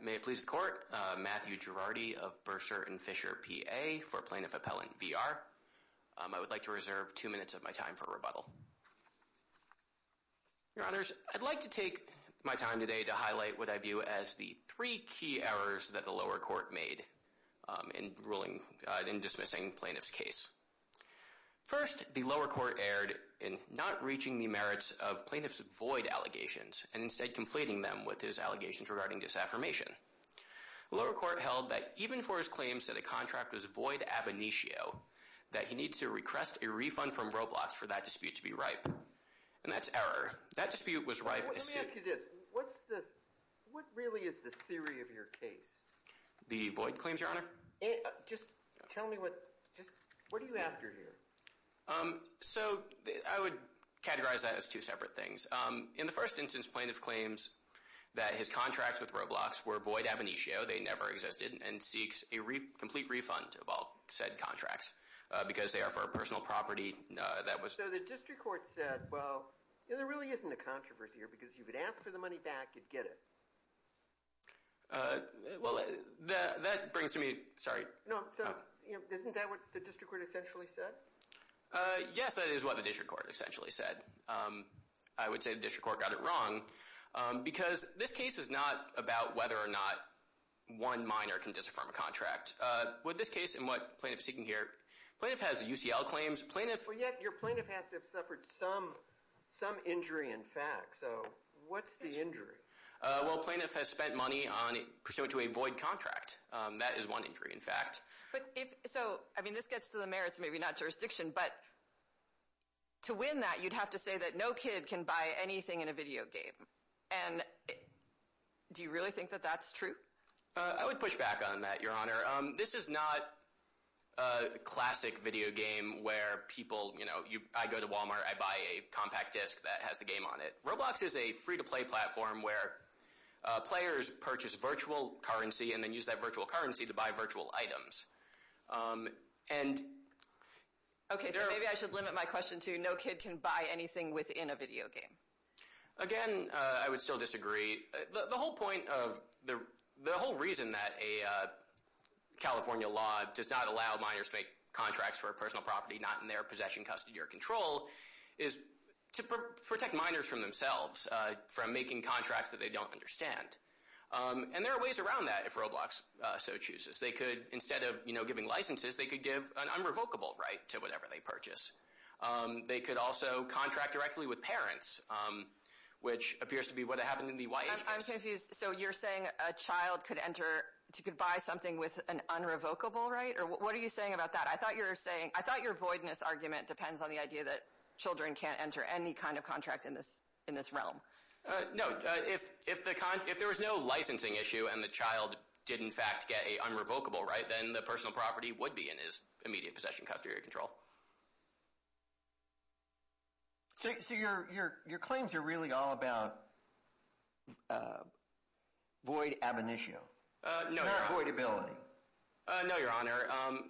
May it please the Court, Matthew Girardi of Bursar and Fisher P.A. for Plaintiff Appellant v. R. I would like to reserve two minutes of my time for rebuttal. Your Honors, I'd like to take my time today to highlight what I view as the three key errors that the lower court made in ruling, in dismissing plaintiff's case. First, the lower court erred in not reaching the merits of plaintiff's void allegations and instead conflating them with his allegations regarding disaffirmation. Lower court held that even for his claims that a contract was void ab initio, that he needs to request a refund from Roblox for that dispute to be ripe. And that's error. That dispute was ripe. Let me ask you this, what's this, what really is the theory of your case? The void claims, Your Honor? Just tell me what, just, what are you after here? So I would categorize that as two separate things. In the first instance, plaintiff claims that his contracts with Roblox were void ab initio, they never existed, and seeks a complete refund of all said contracts because they are for a personal property that was. So the district court said, well, you know, there really isn't a controversy here because you could ask for the money back, you'd get it. Well, that brings to me, sorry. No, so isn't that what the district court essentially said? Yes, that is what the district court essentially said. I would say the district court got it wrong because this case is not about whether or not one minor can disaffirm a contract. With this case and what plaintiff's seeking here, plaintiff has UCL claims, plaintiff... But yet your plaintiff has to have suffered some, some injury in fact. So what's the injury? Well, plaintiff has spent money on, pursuant to a void contract. That is one injury in fact. But if, so, I mean, this gets to the merits, maybe not jurisdiction, but to win that you'd have to say that no kid can buy anything in a video game. And do you really think that that's true? I would push back on that, Your Honor. This is not a classic video game where people, you know, I go to Walmart, I buy a compact disc that has the game on it. Roblox is a free-to-play platform where players purchase virtual currency and then use that virtual currency to buy virtual items. And... Okay, so maybe I should limit my question to no kid can buy anything within a video game. Again, I would still disagree. The whole point of, the whole reason that a California law does not allow minors to make contracts for a personal property not in their possession, custody, or control is to protect minors from themselves, from making contracts that they don't understand. And there are ways around that if Roblox so chooses. They could, instead of, you know, giving licenses, they could give an unrevocable right to whatever they purchase. They could also contract directly with parents, which appears to be what happened in the YH case. I'm confused. So you're saying a child could enter, could buy something with an unrevocable right? Or what are you saying about that? I thought you were saying, I thought your voidness argument depends on the idea that a child could enter any kind of contract in this, in this realm. No, if, if the, if there was no licensing issue and the child did in fact get a unrevocable right, then the personal property would be in his immediate possession, custody, or control. So, so your, your, your claims are really all about void ab initio? No, your honor. Or voidability? No, your honor.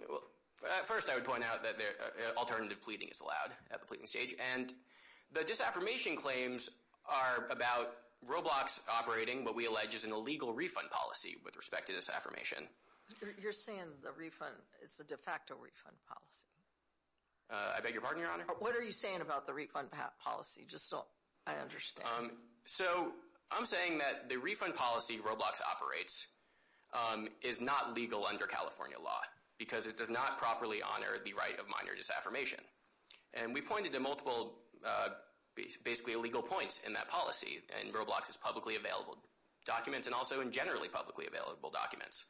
Well, at first I would point out that alternative pleading is allowed at the pleading stage. And the disaffirmation claims are about Roblox operating what we allege is an illegal refund policy with respect to this affirmation. You're saying the refund is a de facto refund policy? I beg your pardon, your honor? What are you saying about the refund policy? Just so I understand. So I'm saying that the refund policy Roblox operates is not legal under California law because it does not properly honor the right of minor disaffirmation. And we pointed to multiple basically illegal points in that policy in Roblox's publicly available documents and also in generally publicly available documents.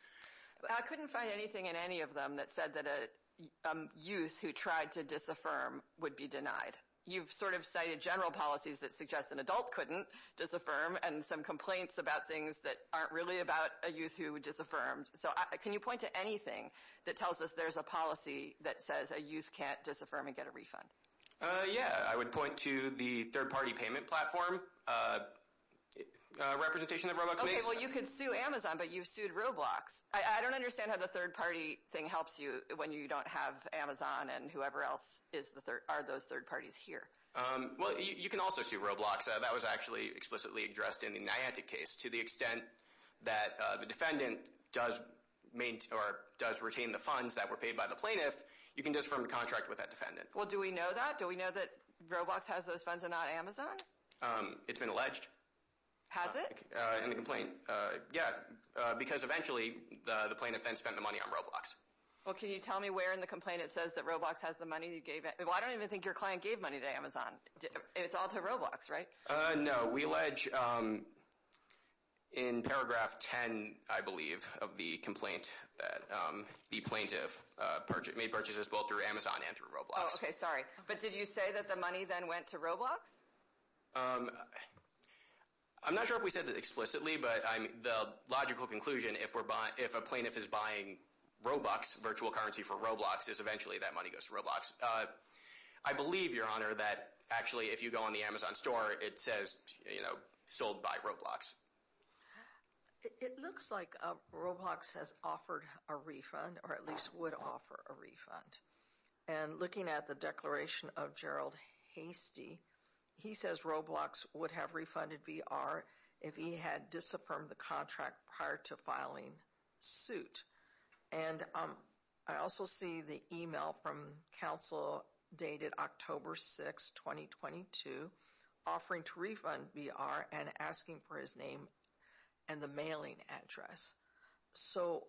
I couldn't find anything in any of them that said that a youth who tried to disaffirm would be denied. You've sort of cited general policies that suggest an adult couldn't disaffirm and some complaints about things that aren't really about a youth who disaffirmed. So can you point to anything that tells us there's a policy that says a youth can't disaffirm and get a refund? Uh, yeah. I would point to the third-party payment platform representation that Roblox makes. Okay, well you could sue Amazon, but you've sued Roblox. I don't understand how the third-party thing helps you when you don't have Amazon and whoever else are those third-parties here? Well, you can also sue Roblox. That was actually explicitly addressed in the Niantic case. To the extent that the defendant does retain the funds that were paid by the plaintiff, you can disaffirm the contract with that defendant. Well do we know that? Do we know that Roblox has those funds and not Amazon? It's been alleged. Has it? In the complaint, yeah. Because eventually the plaintiff then spent the money on Roblox. Well, can you tell me where in the complaint it says that Roblox has the money you gave it? Well, I don't even think your client gave money to Amazon. It's all to Roblox, right? Uh, no. We allege in paragraph 10, I believe, of the complaint that the plaintiff made purchases both through Amazon and through Roblox. Oh, okay, sorry. But did you say that the money then went to Roblox? I'm not sure if we said that explicitly, but the logical conclusion, if a plaintiff is buying Robux, virtual currency for Roblox, is eventually that money goes to Roblox. I believe, your honor, that actually if you go on the Amazon store, it says, you know, sold by Roblox. It looks like Roblox has offered a refund, or at least would offer a refund. And looking at the declaration of Gerald Hastie, he says Roblox would have refunded VR if he had disaffirmed the contract prior to filing suit. And I also see the email from counsel dated October 6, 2022, offering to refund VR and asking for his name and the mailing address. So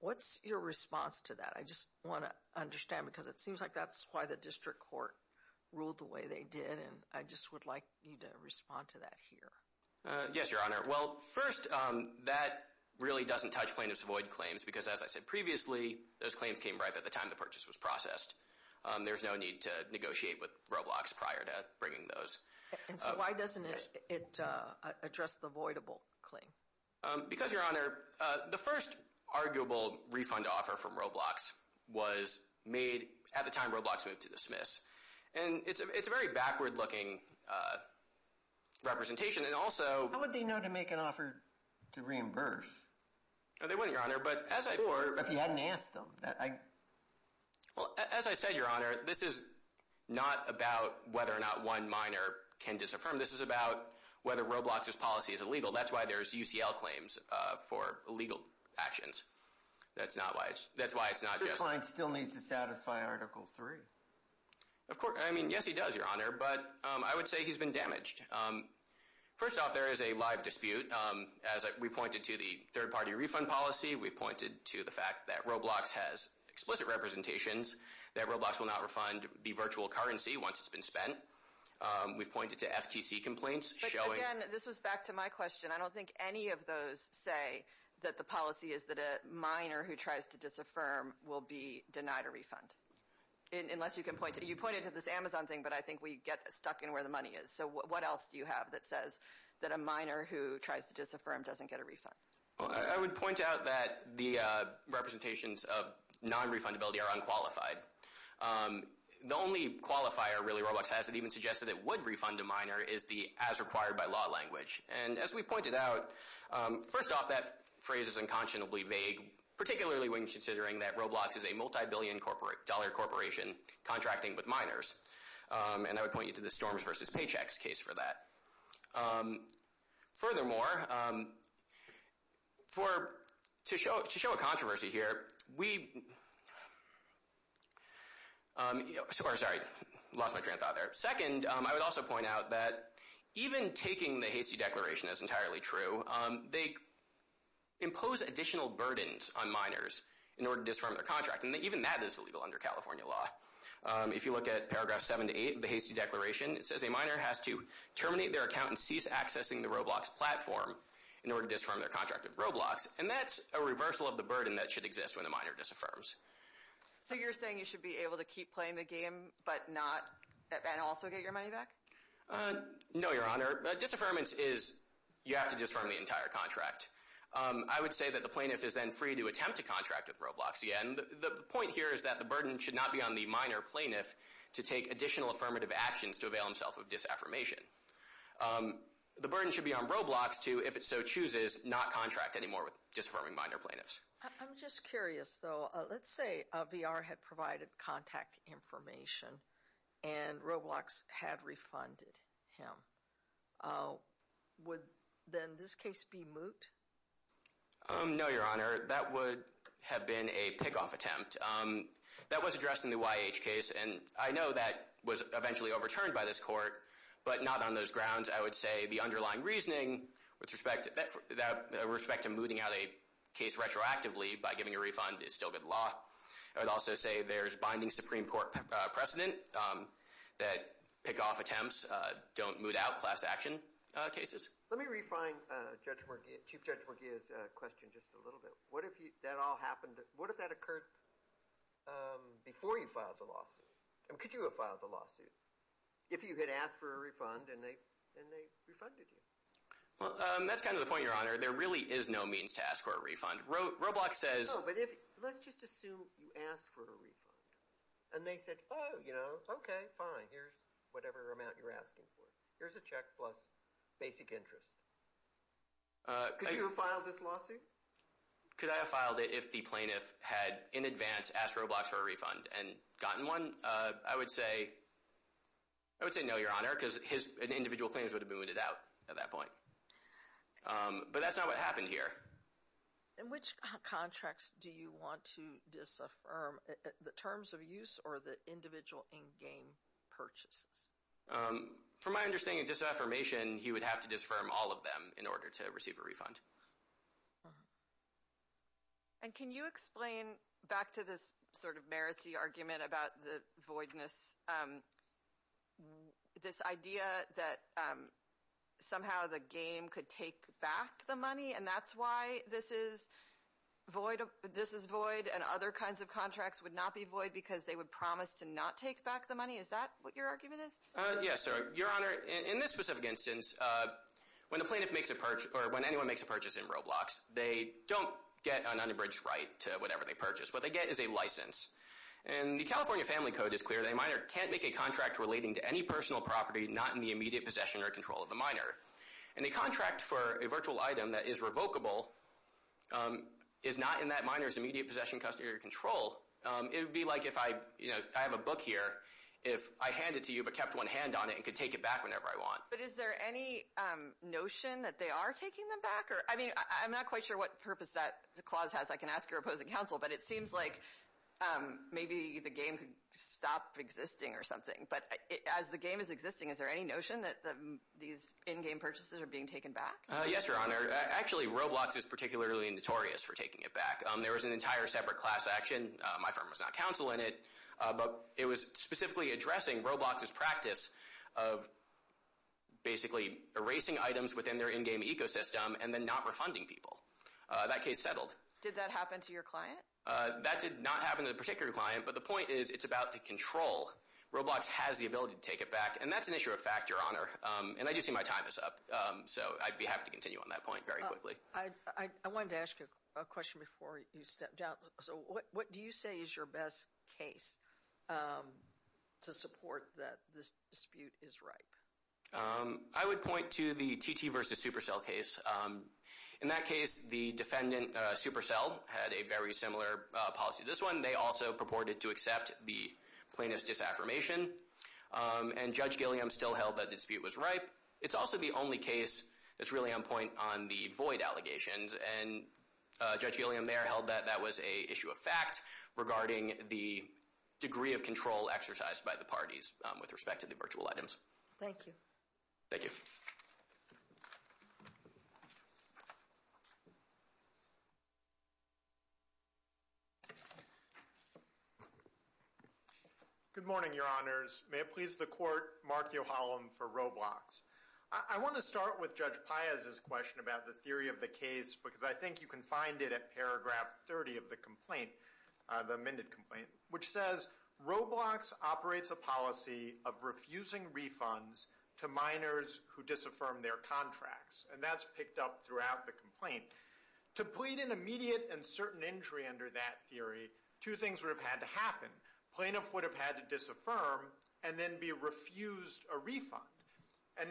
what's your response to that? I just want to understand because it seems like that's why the district court ruled the way they did. And I just would like you to respond to that here. Yes, your honor. Well, first, that really doesn't touch plaintiff's void claims because as I said previously, those claims came right at the time the purchase was processed. There's no need to negotiate with Roblox prior to bringing those. And so why doesn't it address the voidable claim? Because your honor, the first arguable refund offer from Roblox was made at the time Roblox moved to dismiss. And it's a very backward looking representation. And also... How would they know to make an offer to reimburse? They wouldn't, your honor. But as I... Or if you hadn't asked them. Well, as I said, your honor, this is not about whether or not one minor can disaffirm. This is about whether Roblox's policy is illegal. That's why there's UCL claims for illegal actions. That's not why it's... That's why it's not just... Of course... I mean, yes, he does, your honor. But I would say he's been damaged. First off, there is a live dispute. As we pointed to the third party refund policy, we've pointed to the fact that Roblox has explicit representations that Roblox will not refund the virtual currency once it's been spent. We've pointed to FTC complaints showing... But again, this was back to my question. I don't think any of those say that the policy is that a minor who tries to disaffirm will be denied a refund. Unless you can point to... You pointed to this Amazon thing, but I think we get stuck in where the money is. So what else do you have that says that a minor who tries to disaffirm doesn't get a refund? Well, I would point out that the representations of non-refundability are unqualified. The only qualifier, really, Roblox has that even suggested it would refund a minor is the as required by law language. And as we pointed out, first off, that phrase is unconscionably vague, particularly when Roblox is a multi-billion dollar corporation contracting with minors. And I would point you to the Storms vs. Paychecks case for that. Furthermore, to show a controversy here, we... Sorry, I lost my train of thought there. Second, I would also point out that even taking the hasty declaration as entirely true, they impose additional burdens on minors in order to disaffirm their contract. And even that is illegal under California law. If you look at paragraph 7 to 8 of the hasty declaration, it says a minor has to terminate their account and cease accessing the Roblox platform in order to disaffirm their contract with Roblox. And that's a reversal of the burden that should exist when a minor disaffirms. So you're saying you should be able to keep playing the game, but not... And also get your money back? No, Your Honor. Disaffirmance is you have to disaffirm the entire contract. I would say that the plaintiff is then free to attempt to contract with Roblox again. The point here is that the burden should not be on the minor plaintiff to take additional affirmative actions to avail himself of disaffirmation. The burden should be on Roblox to, if it so chooses, not contract anymore with disaffirming minor plaintiffs. I'm just curious, though. Let's say VR had provided contact information and Roblox had refunded him. Would then this case be moot? No, Your Honor. That would have been a pick-off attempt. That was addressed in the YH case, and I know that was eventually overturned by this court, but not on those grounds. I would say the underlying reasoning with respect to mooting out a case retroactively by giving a refund is still good law. I would also say there's binding Supreme Court precedent that pick-off attempts don't moot out class action cases. Let me refine Chief Judge Morgia's question just a little bit. What if that all happened, what if that occurred before you filed the lawsuit? I mean, could you have filed the lawsuit if you had asked for a refund and they refunded you? Well, that's kind of the point, Your Honor. There really is no means to ask for a refund. Roblox says... No, but let's just assume you asked for a refund, and they said, oh, you know, okay, fine, here's whatever amount you're asking for. Here's a check plus basic interest. Could you have filed this lawsuit? Could I have filed it if the plaintiff had, in advance, asked Roblox for a refund and gotten one? I would say no, Your Honor, because his individual claims would have been mooted out at that point. But that's not what happened here. In which contracts do you want to disaffirm? The terms of use or the individual in-game purchases? From my understanding, disaffirmation, he would have to disaffirm all of them in order to receive a refund. And can you explain, back to this sort of merits-y argument about the voidness, this idea that somehow the game could take back the money, and that's why this is void and other kinds of contracts would not be void because they would promise to not take back the money? Is that what your argument is? Yes, Your Honor. In this specific instance, when anyone makes a purchase in Roblox, they don't get an unabridged right to whatever they purchase. What they get is a license. And the California Family Code is clear that a miner can't make a contract relating to any personal property not in the immediate possession or control of the miner. And a contract for a virtual item that is revocable is not in that miner's immediate possession, custody, or control. It would be like if I have a book here, if I hand it to you but kept one hand on it and could take it back whenever I want. But is there any notion that they are taking them back? I mean, I'm not quite sure what purpose that clause has. I can ask your opposing counsel, but it seems like maybe the game could stop existing or something. But as the game is existing, is there any notion that these in-game purchases are being taken back? Yes, Your Honor. Actually, Roblox is particularly notorious for taking it back. There was an entire separate class action. My firm was not counsel in it. But it was specifically addressing Roblox's practice of basically erasing items within their in-game ecosystem and then not refunding people. That case settled. Did that happen to your client? That did not happen to the particular client. But the point is, it's about the control. Roblox has the ability to take it back. And that's an issue of fact, Your Honor. And I do see my time is up. So I'd be happy to continue on that point very quickly. I wanted to ask you a question before you step down. So what do you say is your best case to support that this dispute is ripe? I would point to the TT versus Supercell case. In that case, the defendant, Supercell, had a very similar policy to this one. They also purported to accept the plaintiff's disaffirmation. And Judge Gilliam still held that the dispute was ripe. It's also the only case that's really on point on the void allegations. And Judge Gilliam there held that that was an issue of fact regarding the degree of control exercised by the parties with respect to the virtual items. Thank you. Thank you. Good morning, Your Honors. May it please the Court, Mark Yohalem for Roblox. I want to start with Judge Paez's question about the theory of the case because I think you can find it at paragraph 30 of the complaint, the amended complaint, which says, Roblox operates a policy of refusing refunds to minors who disaffirm their contracts. And that's picked up throughout the complaint. To plead an immediate and certain injury under that theory, two things would have had to happen. Plaintiff would have had to disaffirm and then be refused a refund. And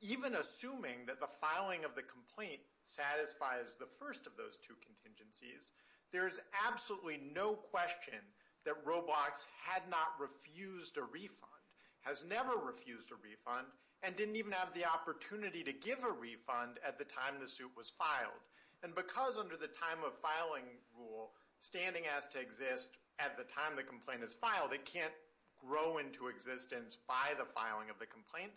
even assuming that the filing of the complaint satisfies the first of those two contingencies, there's absolutely no question that Roblox had not refused a refund, has never refused a refund, and didn't even have the opportunity to give a refund at the time the suit was filed. And because under the time of filing rule, standing has to exist at the time the complaint is filed. It can't grow into existence by the filing of the complaint.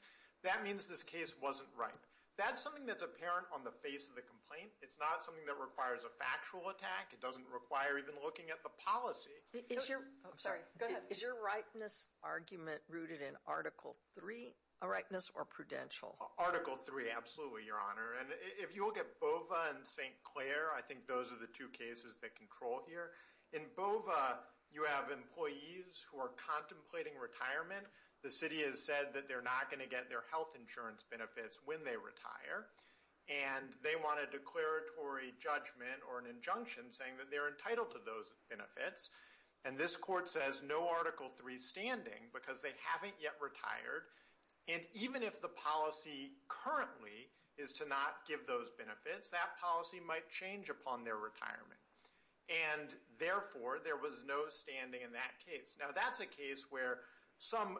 That means this case wasn't right. That's something that's apparent on the face of the complaint. It's not something that requires a factual attack. It doesn't require even looking at the policy. I'm sorry, go ahead. Is your rightness argument rooted in Article 3 rightness or prudential? Article 3, absolutely, Your Honor. And if you look at BOVA and St. Clair, I think those are the two cases that control here. In BOVA, you have employees who are contemplating retirement. The city has said that they're not going to get their health insurance benefits when they retire. And they want a declaratory judgment or an injunction saying that they're entitled to those benefits. And this court says no Article 3 standing, because they haven't yet retired. And even if the policy currently is to not give those benefits, that policy might change upon their retirement. And therefore, there was no standing in that case. Now, that's a case where some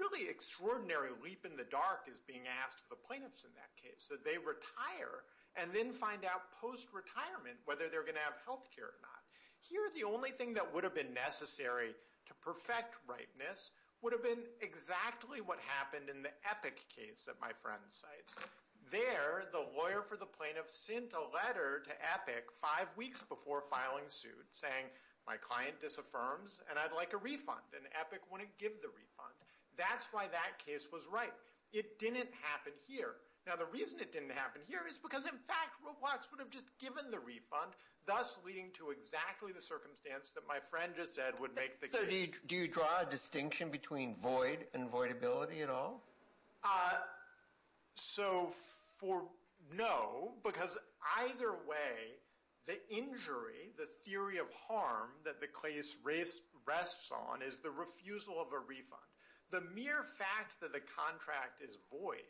really extraordinary leap in the dark is being asked of the plaintiffs in that case, that they retire and then find out post-retirement whether they're going to have health care or not. Here, the only thing that would have been necessary to perfect rightness would have been exactly what happened in the Epic case that my friend cites. There, the lawyer for the plaintiff sent a letter to Epic five weeks before filing suit, saying, my client disaffirms and I'd like a refund. And Epic wouldn't give the refund. That's why that case was right. It didn't happen here. Now, the reason it didn't happen here is because, in fact, Roblox would have just given the refund, thus leading to exactly the circumstance that my friend just said would make the case. So do you draw a distinction between void and voidability at all? So, no, because either way, the injury, the theory of harm that the case rests on is the refusal of a refund. The mere fact that the contract is void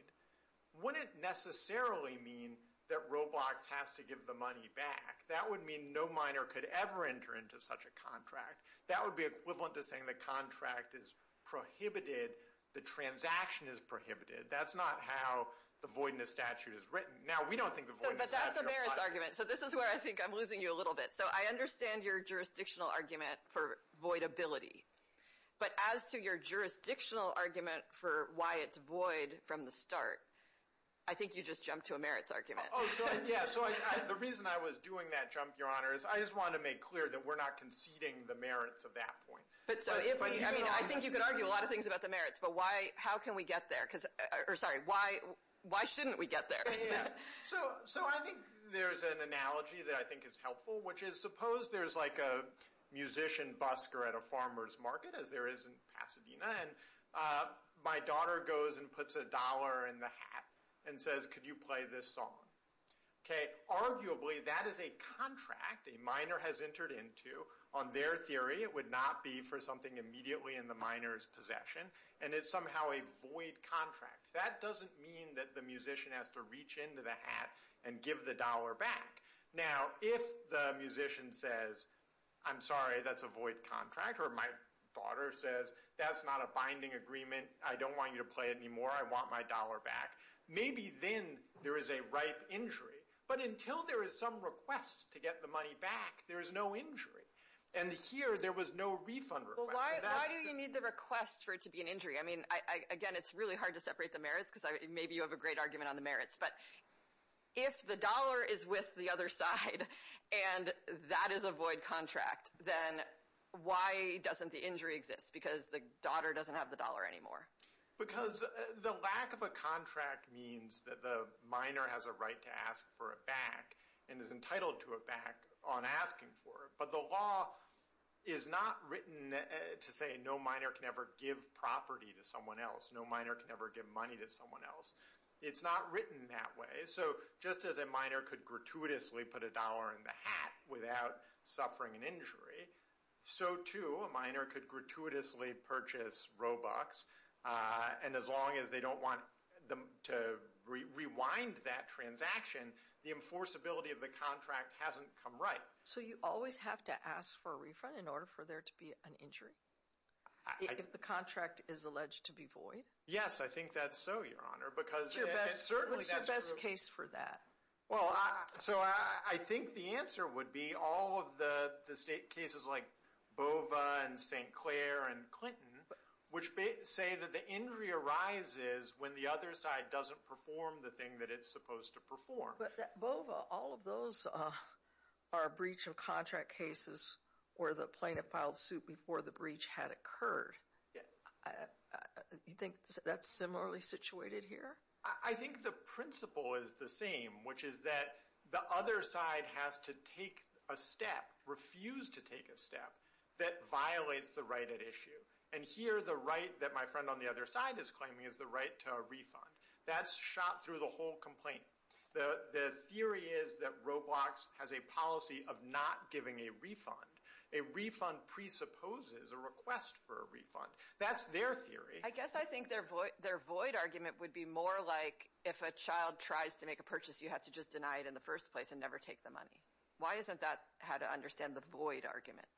wouldn't necessarily mean that Roblox has to give the money back. That would mean no miner could ever enter into such a contract. That would be equivalent to saying the contract is prohibited, the transaction is prohibited. That's not how the voidness statute is written. Now, we don't think the voidness statute... But that's a merits argument. So this is where I think I'm losing you a little bit. So I understand your jurisdictional argument for voidability. But as to your jurisdictional argument for why it's void from the start, I think you just jumped to a merits argument. Oh, yeah. So the reason I was doing that jump, Your Honor, is I just wanted to make clear that we're not conceding the merits of that point. But so if we... I mean, I think you could argue a lot of things about the merits, but how can we get there? Or, sorry, why shouldn't we get there? So I think there's an analogy that I think is helpful, which is suppose there's like a musician busker at a farmer's market, as there is in Pasadena, and my daughter goes and puts a dollar in the hat and says, could you play this song? Arguably, that is a contract a miner has entered into. On their theory, it would not be for something immediately in the miner's possession, and it's somehow a void contract. That doesn't mean that the musician has to reach into the hat and give the dollar back. Now, if the musician says, I'm sorry, that's a void contract, or my daughter says, that's not a binding agreement, I don't want you to play it anymore, I want my dollar back, maybe then there is a ripe injury. But until there is some request to get the money back, there is no injury. And here, there was no refund request. Well, why do you need the request for it to be an injury? I mean, again, it's really hard to separate the merits, because maybe you have a great argument on the merits, but if the dollar is with the other side, and that is a void contract, then why doesn't the injury exist? Because the daughter doesn't have the dollar anymore. Because the lack of a contract means that the miner has a right to ask for it back, and is entitled to it back on asking for it. But the law is not written to say, no miner can ever give property to someone else, no miner can ever give money to someone else. It's not written that way. So just as a miner could gratuitously put a dollar in the hat without suffering an injury, so too a miner could gratuitously purchase Robux, and as long as they don't want to rewind that transaction, the enforceability of the contract hasn't come right. So you always have to ask for a refund in order for there to be an injury? If the contract is alleged to be void? Yes, I think that's so, Your Honor. What's your best case for that? Well, so I think the answer would be all of the cases like Bova and St. Clair and Clinton, which say that the injury arises when the other side doesn't perform the thing that it's supposed to perform. But Bova, all of those are breach of contract cases or the plaintiff filed suit before the breach had occurred. You think that's similarly situated here? I think the principle is the same, which is that the other side has to take a step, refuse to take a step, that violates the right at issue. And here the right that my friend on the other side is claiming is the right to a refund. That's shot through the whole complaint. The theory is that Roblox has a policy of not giving a refund. A refund presupposes a request for a refund. That's their theory. I guess I think their void argument would be more like if a child tries to make a purchase, you have to just deny it in the first place and never take the money. Why isn't that how to understand the void argument?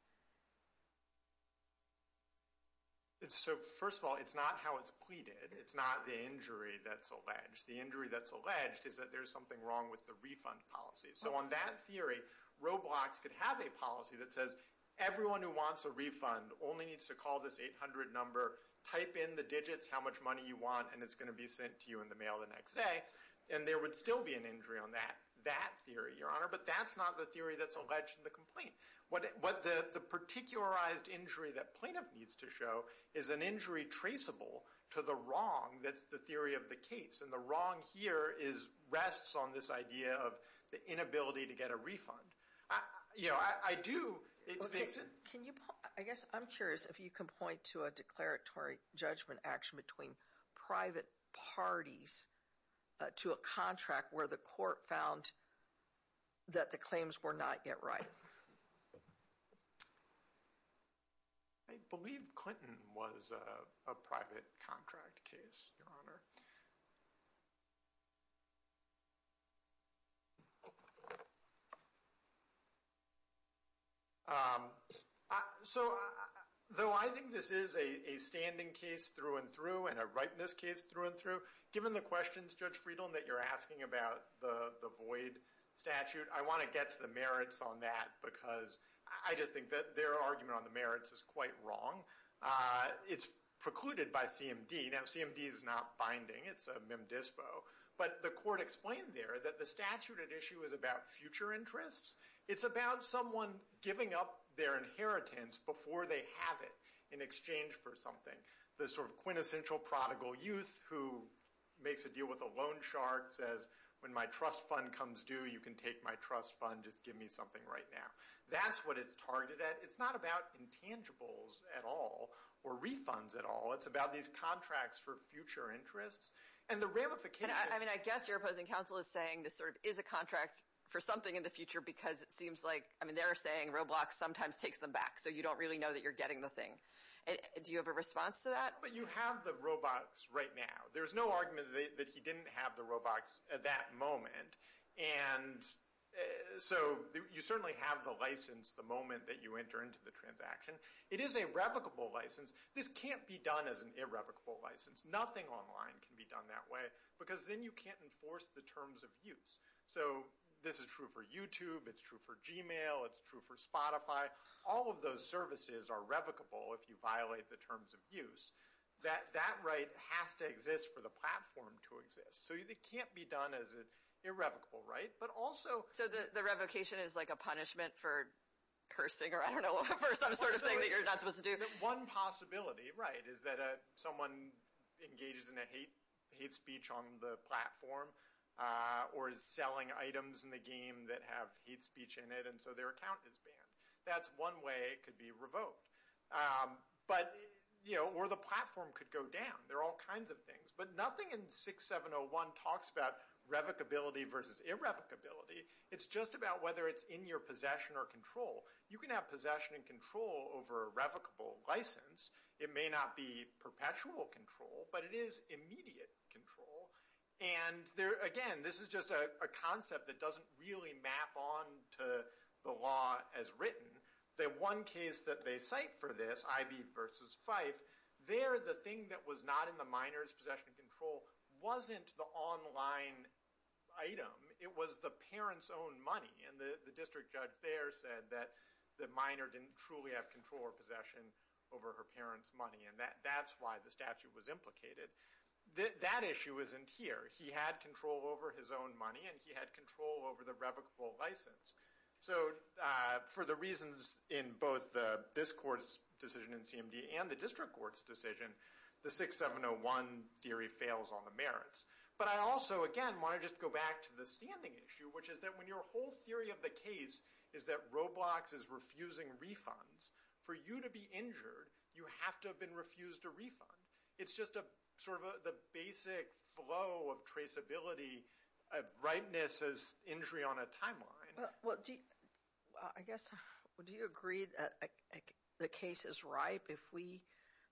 So first of all, it's not how it's pleaded. It's not the injury that's alleged. The injury that's alleged is that there's something wrong with the refund policy. So on that theory, Roblox could have a policy that says everyone who wants a refund only needs to call this 800 number, type in the digits how much money you want, and it's going to be sent to you in the mail the next day. And there would still be an injury on that theory, Your Honor, but that's not the theory that's alleged in the complaint. What the particularized injury that plaintiff needs to show is an injury traceable to the wrong that's the theory of the case. And the wrong here rests on this idea of the inability to get a refund. You know, I do... Okay, can you... I guess I'm curious if you can point to a declaratory judgment action between private parties to a contract where the court found that the claims were not yet right. I believe Clinton was a private contract case, Your Honor. So though I think this is a standing case through and through and a rightness case through and through, given the questions, Judge Friedland, that you're asking about the void statute, I want to get to the merits on that because I just think that their argument on the merits is quite wrong. It's precluded by CMD. Now, CMD is not binding. It's a mem dispo. But the court explained there that the statute at issue is about future interests. It's about someone giving up their inheritance before they have it in exchange for something. The sort of quintessential prodigal youth who makes a deal with a loan shark, says, when my trust fund comes due, you can take my trust fund, just give me something right now. That's what it's targeted at. It's not about intangibles at all or refunds at all. It's about these contracts for future interests. And the ramification... I mean, I guess your opposing counsel is saying this sort of is a contract for something in the future because it seems like, I mean, they're saying Roblox sometimes takes them back. So you don't really know that you're getting the thing. Do you have a response to that? But you have the Roblox right now. There's no argument that he didn't have the Roblox at that moment. And so you certainly have the license the moment that you enter into the transaction. It is a revocable license. This can't be done as an irrevocable license. Nothing online can be done that way because then you can't enforce the terms of use. So this is true for YouTube. It's true for Gmail. It's true for Spotify. All of those services are revocable if you violate the terms of use. That right has to exist for the platform to exist. So it can't be done as an irrevocable, right? But also... So the revocation is like a punishment for cursing or I don't know, for some sort of thing that you're not supposed to do? One possibility, right, is that someone engages in a hate speech on the platform or is selling items in the game that have hate speech in it and so their account is banned. That's one way it could be revoked. But, you know, or the platform could go down. There are all kinds of things. But nothing in 6701 talks about revocability versus irrevocability. It's just about whether it's in your possession or control. You can have possession and control over a revocable license. It may not be perpetual control, but it is immediate control. And again, this is just a concept that doesn't really map on to the law as written. The one case that they cite for this, Ivy versus Fife, there the thing that was not in the minor's possession and control wasn't the online item. It was the parent's own money. And the district judge there said that the minor didn't truly have control or possession over her parent's money. And that's why the statute was implicated. That issue isn't here. He had control over his own money and he had control over the revocable license. So for the reasons in both this court's decision in CMD and the district court's decision, the 6701 theory fails on the merits. But I also, again, want to just go back to the standing issue, which is that when your whole theory of the case is that Roblox is refusing refunds, for you to be injured, you have to have been refused a refund. It's just sort of the basic flow of traceability of ripeness as injury on a timeline. I guess, would you agree that the case is ripe if we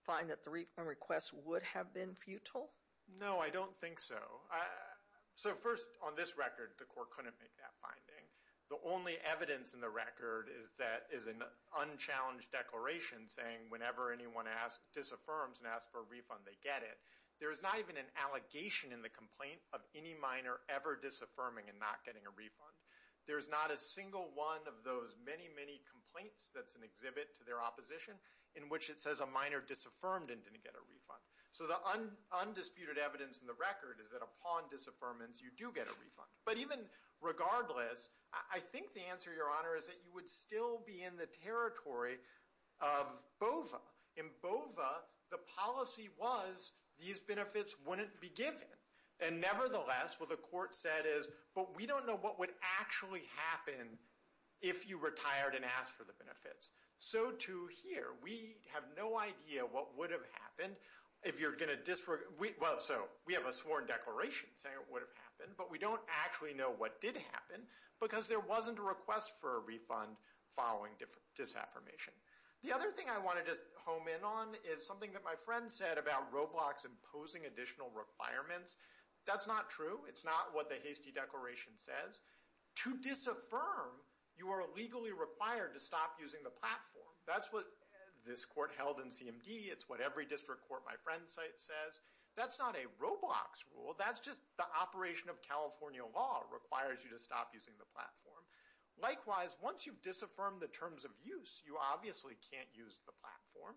find that the refund request would have been futile? No, I don't think so. So first, on this record, the court couldn't make that finding. The only evidence in the record is an unchallenged declaration saying whenever anyone disaffirms and asks for a refund, they get it. There's not even an allegation in the complaint of any minor ever disaffirming and not getting a refund. There's not a single one of those many, many complaints that's an exhibit to their opposition in which it says a minor disaffirmed and didn't get a refund. So the undisputed evidence in the record is that upon disaffirmance, you do get a refund. But even regardless, I think the answer, Your Honor, is that you would still be in the territory of BOVA. In BOVA, the policy was these benefits wouldn't be given. And nevertheless, what the court said is, but we don't know what would actually happen if you retired and asked for the benefits. So to here, we have no idea what would have happened if you're going to disre... Well, so, we have a sworn declaration saying it would have happened, but we don't actually know what did happen because there wasn't a request for a refund following disaffirmation. The other thing I want to just home in on is something that my friend said about ROBLOX imposing additional requirements. That's not true. It's not what the hasty declaration says. To disaffirm, you are legally required to stop using the platform. That's what this court held in CMD. It's what every district court my friend says. That's not a ROBLOX rule. That's just the operation of California law requires you to stop using the platform. Likewise, once you've disaffirmed the terms of use, you obviously can't use the platform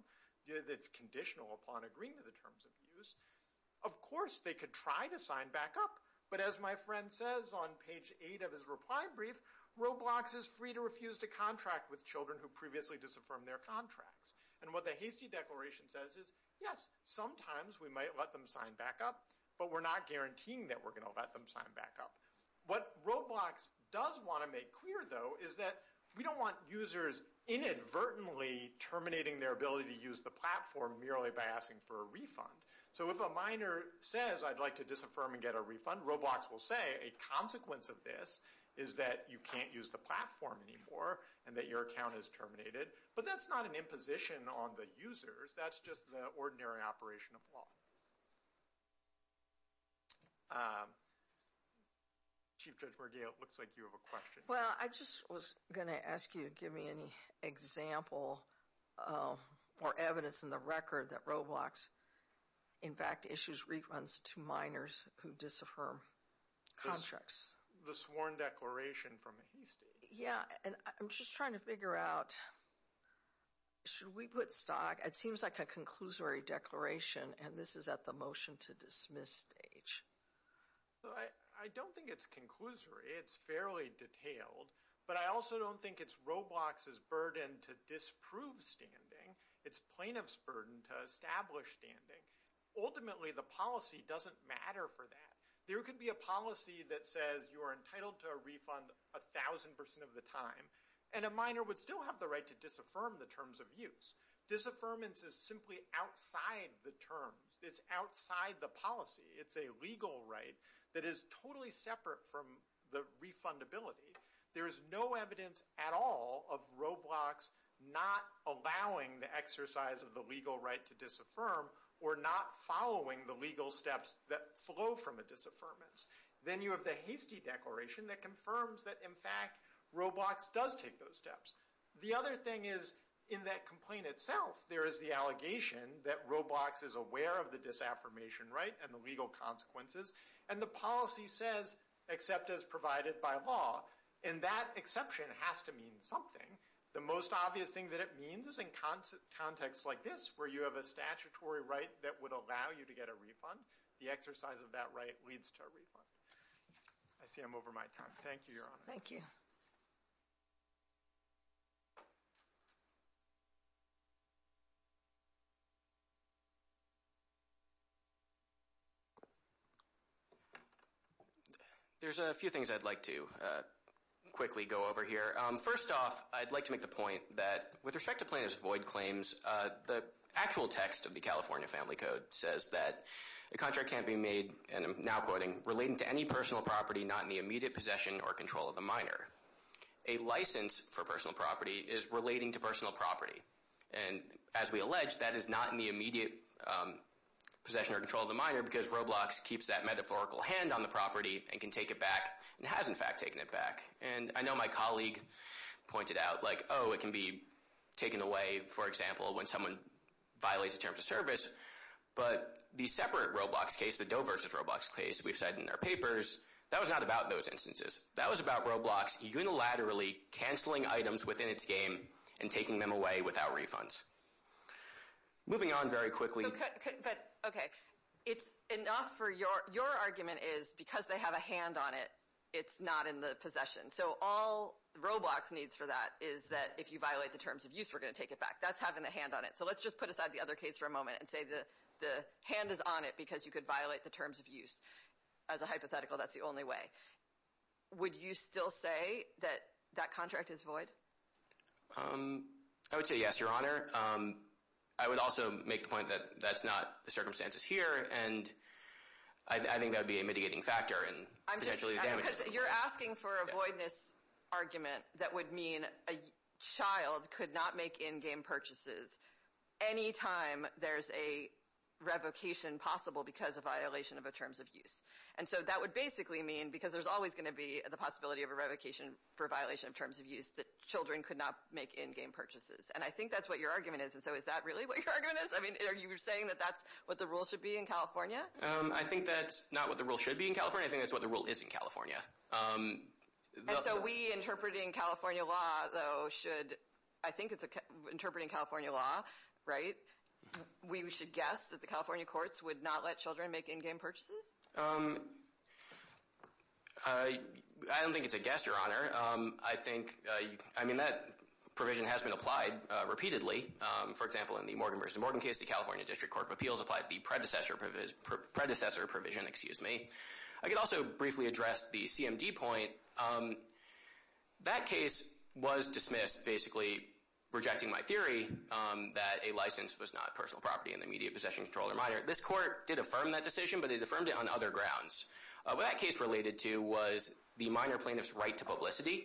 that's conditional upon agreeing to the terms of use. Of course, they could try to sign back up. But as my friend says on page 8 of his reply brief, ROBLOX is free to refuse to contract with children who previously disaffirmed their contracts. And what the hasty declaration says is, yes, sometimes we might let them sign back up, but we're not guaranteeing that we're going to let them sign back up. What ROBLOX does want to make clear, though, is that we don't want users inadvertently terminating their ability to use the platform merely by asking for a refund. So if a minor says, I'd like to disaffirm and get a refund, ROBLOX will say a consequence of this is that you can't use the platform anymore and that your account is terminated. But that's not an imposition on the users. That's just the ordinary operation of law. Chief Judge Merguez, it looks like you have a question. Well, I just was going to ask you to give me any example or evidence in the record that ROBLOX, in fact, issues refunds to minors who disaffirm contracts. The sworn declaration from a hasty. Yeah, and I'm just trying to figure out, should we put stock? It seems like a conclusory declaration and this is at the motion to dismiss stage. I don't think it's conclusory. It's fairly detailed. But I also don't think it's ROBLOX's burden to disprove standing. It's plaintiff's burden to establish standing. Ultimately, the policy doesn't matter for that. There could be a policy that says you are entitled to a refund 1,000% of the time and a minor would still have the right to disaffirm the terms of use. Disaffirmance is simply outside the terms. It's outside the policy. It's a legal right that is totally separate from the refundability. There is no evidence at all of ROBLOX not allowing the exercise of the legal right to disaffirm or not following the legal steps that flow from a disaffirmance. Then you have the hasty declaration that confirms that, in fact, ROBLOX does take those steps. The other thing is in that complaint itself, there is the allegation that ROBLOX is aware of the disaffirmation right and the legal consequences and the policy says, except as provided by law. And that exception has to mean something. The most obvious thing that it means is in context like this, where you have a statutory right that would allow you to get a refund, the exercise of that right leads to a refund. I see I'm over my time. Thank you, Your Honor. Thank you. There's a few things I'd like to quickly go over here. First off, I'd like to make the point that, with respect to plaintiff's void claims, the actual text of the California Family Code says that a contract can't be made, and I'm now quoting, relating to any personal property not in the immediate possession or control of the minor. A license for personal property is relating to personal property. And as we allege, that is not in the immediate possession or control of the minor because ROBLOX keeps that metaphorical hand on the property and can take it back and has, in fact, taken it back. And I know my colleague pointed out, like, oh, it can be taken away, for example, when someone violates a term of service, but the separate ROBLOX case, the Doe vs. ROBLOX case, we've said in our papers, that was not about those instances. That was about ROBLOX unilaterally canceling items within its game and taking them away without refunds. Moving on very quickly... But, okay, it's enough for your argument is because they have a hand on it, it's not in the possession. So all ROBLOX needs for that is that if you violate the terms of use, we're going to take it back. That's having the hand on it. So let's just put aside the other case for a moment and say the hand is on it because you could violate the terms of use. As a hypothetical, that's the only way. Would you still say that that contract is void? I would say yes, Your Honor. I would also make the point that that's not the circumstances here, and I think that would be a mitigating factor. You're asking for a voidness argument that would mean a child could not make in-game purchases any time there's a revocation possible because of violation of the terms of use. And so that would basically mean because there's always going to be the possibility of a revocation for violation of terms of use that children could not make in-game purchases. And I think that's what your argument is. Is that really what your argument is? I mean, are you saying that that's what the rule should be in California? I think that's not what the rule should be in California. I think that's what the rule is in California. And so we, interpreting California law, though, should I think it's interpreting California law, right? We should guess that the California courts would not let children make in-game purchases? I don't think it's a guess, Your Honor. I think, I mean, that provision has been applied repeatedly. For example, in the Morgan v. Morgan case, the California District Court of Appeals applied the predecessor provision. I could also briefly address the CMD point. That case was dismissed basically rejecting my theory that a license was not personal property in the immediate possession, control, or minor. This court did affirm that decision, but it affirmed it on other grounds. What that case related to was the minor plaintiff's right to publicity,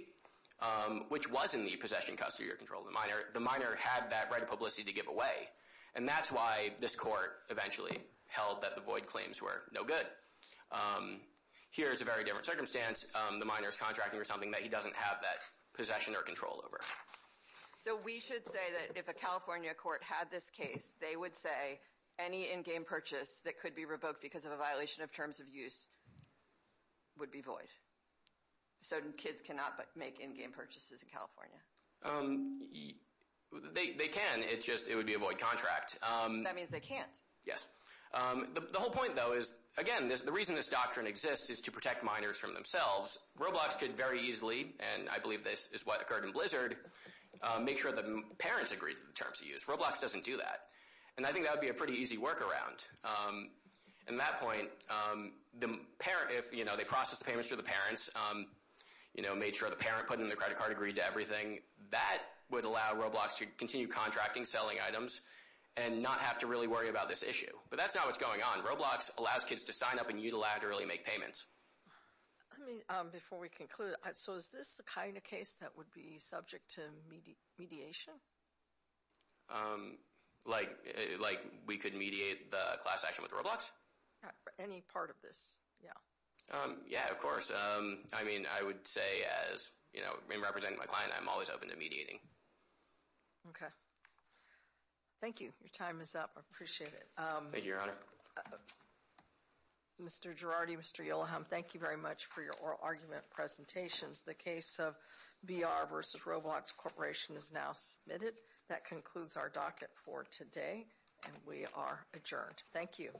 which was in the possession, custody, or control of the minor. The minor had that right of publicity to give away. And that's why this court eventually held that the void claims were no good. Here, it's a very different circumstance. The minor is contracting for something that he doesn't have that possession or control over. So we should say that if a California court had this case, they would say any in-game purchase that could be revoked because of a violation of terms of use would be void. So kids cannot make in-game purchases in California? They can. It's just, it would be a void contract. That means they can't. The whole point, though, is again, the reason this doctrine exists is to protect minors from themselves. Roblox could very easily, and I believe this is what occurred in Blizzard, make sure that parents agree to the terms of use. Roblox doesn't do that. And I think that would be a pretty easy workaround. At that point, if they process the payments for the parents, made sure the parent put in the credit card, agreed to everything, that would allow Roblox to continue contracting, selling items, and not have to really worry about this issue. But that's not what's going on. Roblox allows kids to sign up and unilaterally make payments. Before we conclude, so is this the kind of case that would be subject to mediation? Like we could mediate the class action with Roblox? Any part of this, yeah. Yeah, of course. I mean, I would say as, you know, in representing my client, I'm always open to mediating. Okay. Thank you. Your time is up. I appreciate it. Thank you, Your Honor. Mr. Girardi, Mr. Yoloham, thank you very much for your oral argument presentations. The case of BR versus Roblox Corporation is now submitted. That concludes our docket for today. And we are adjourned. Thank you.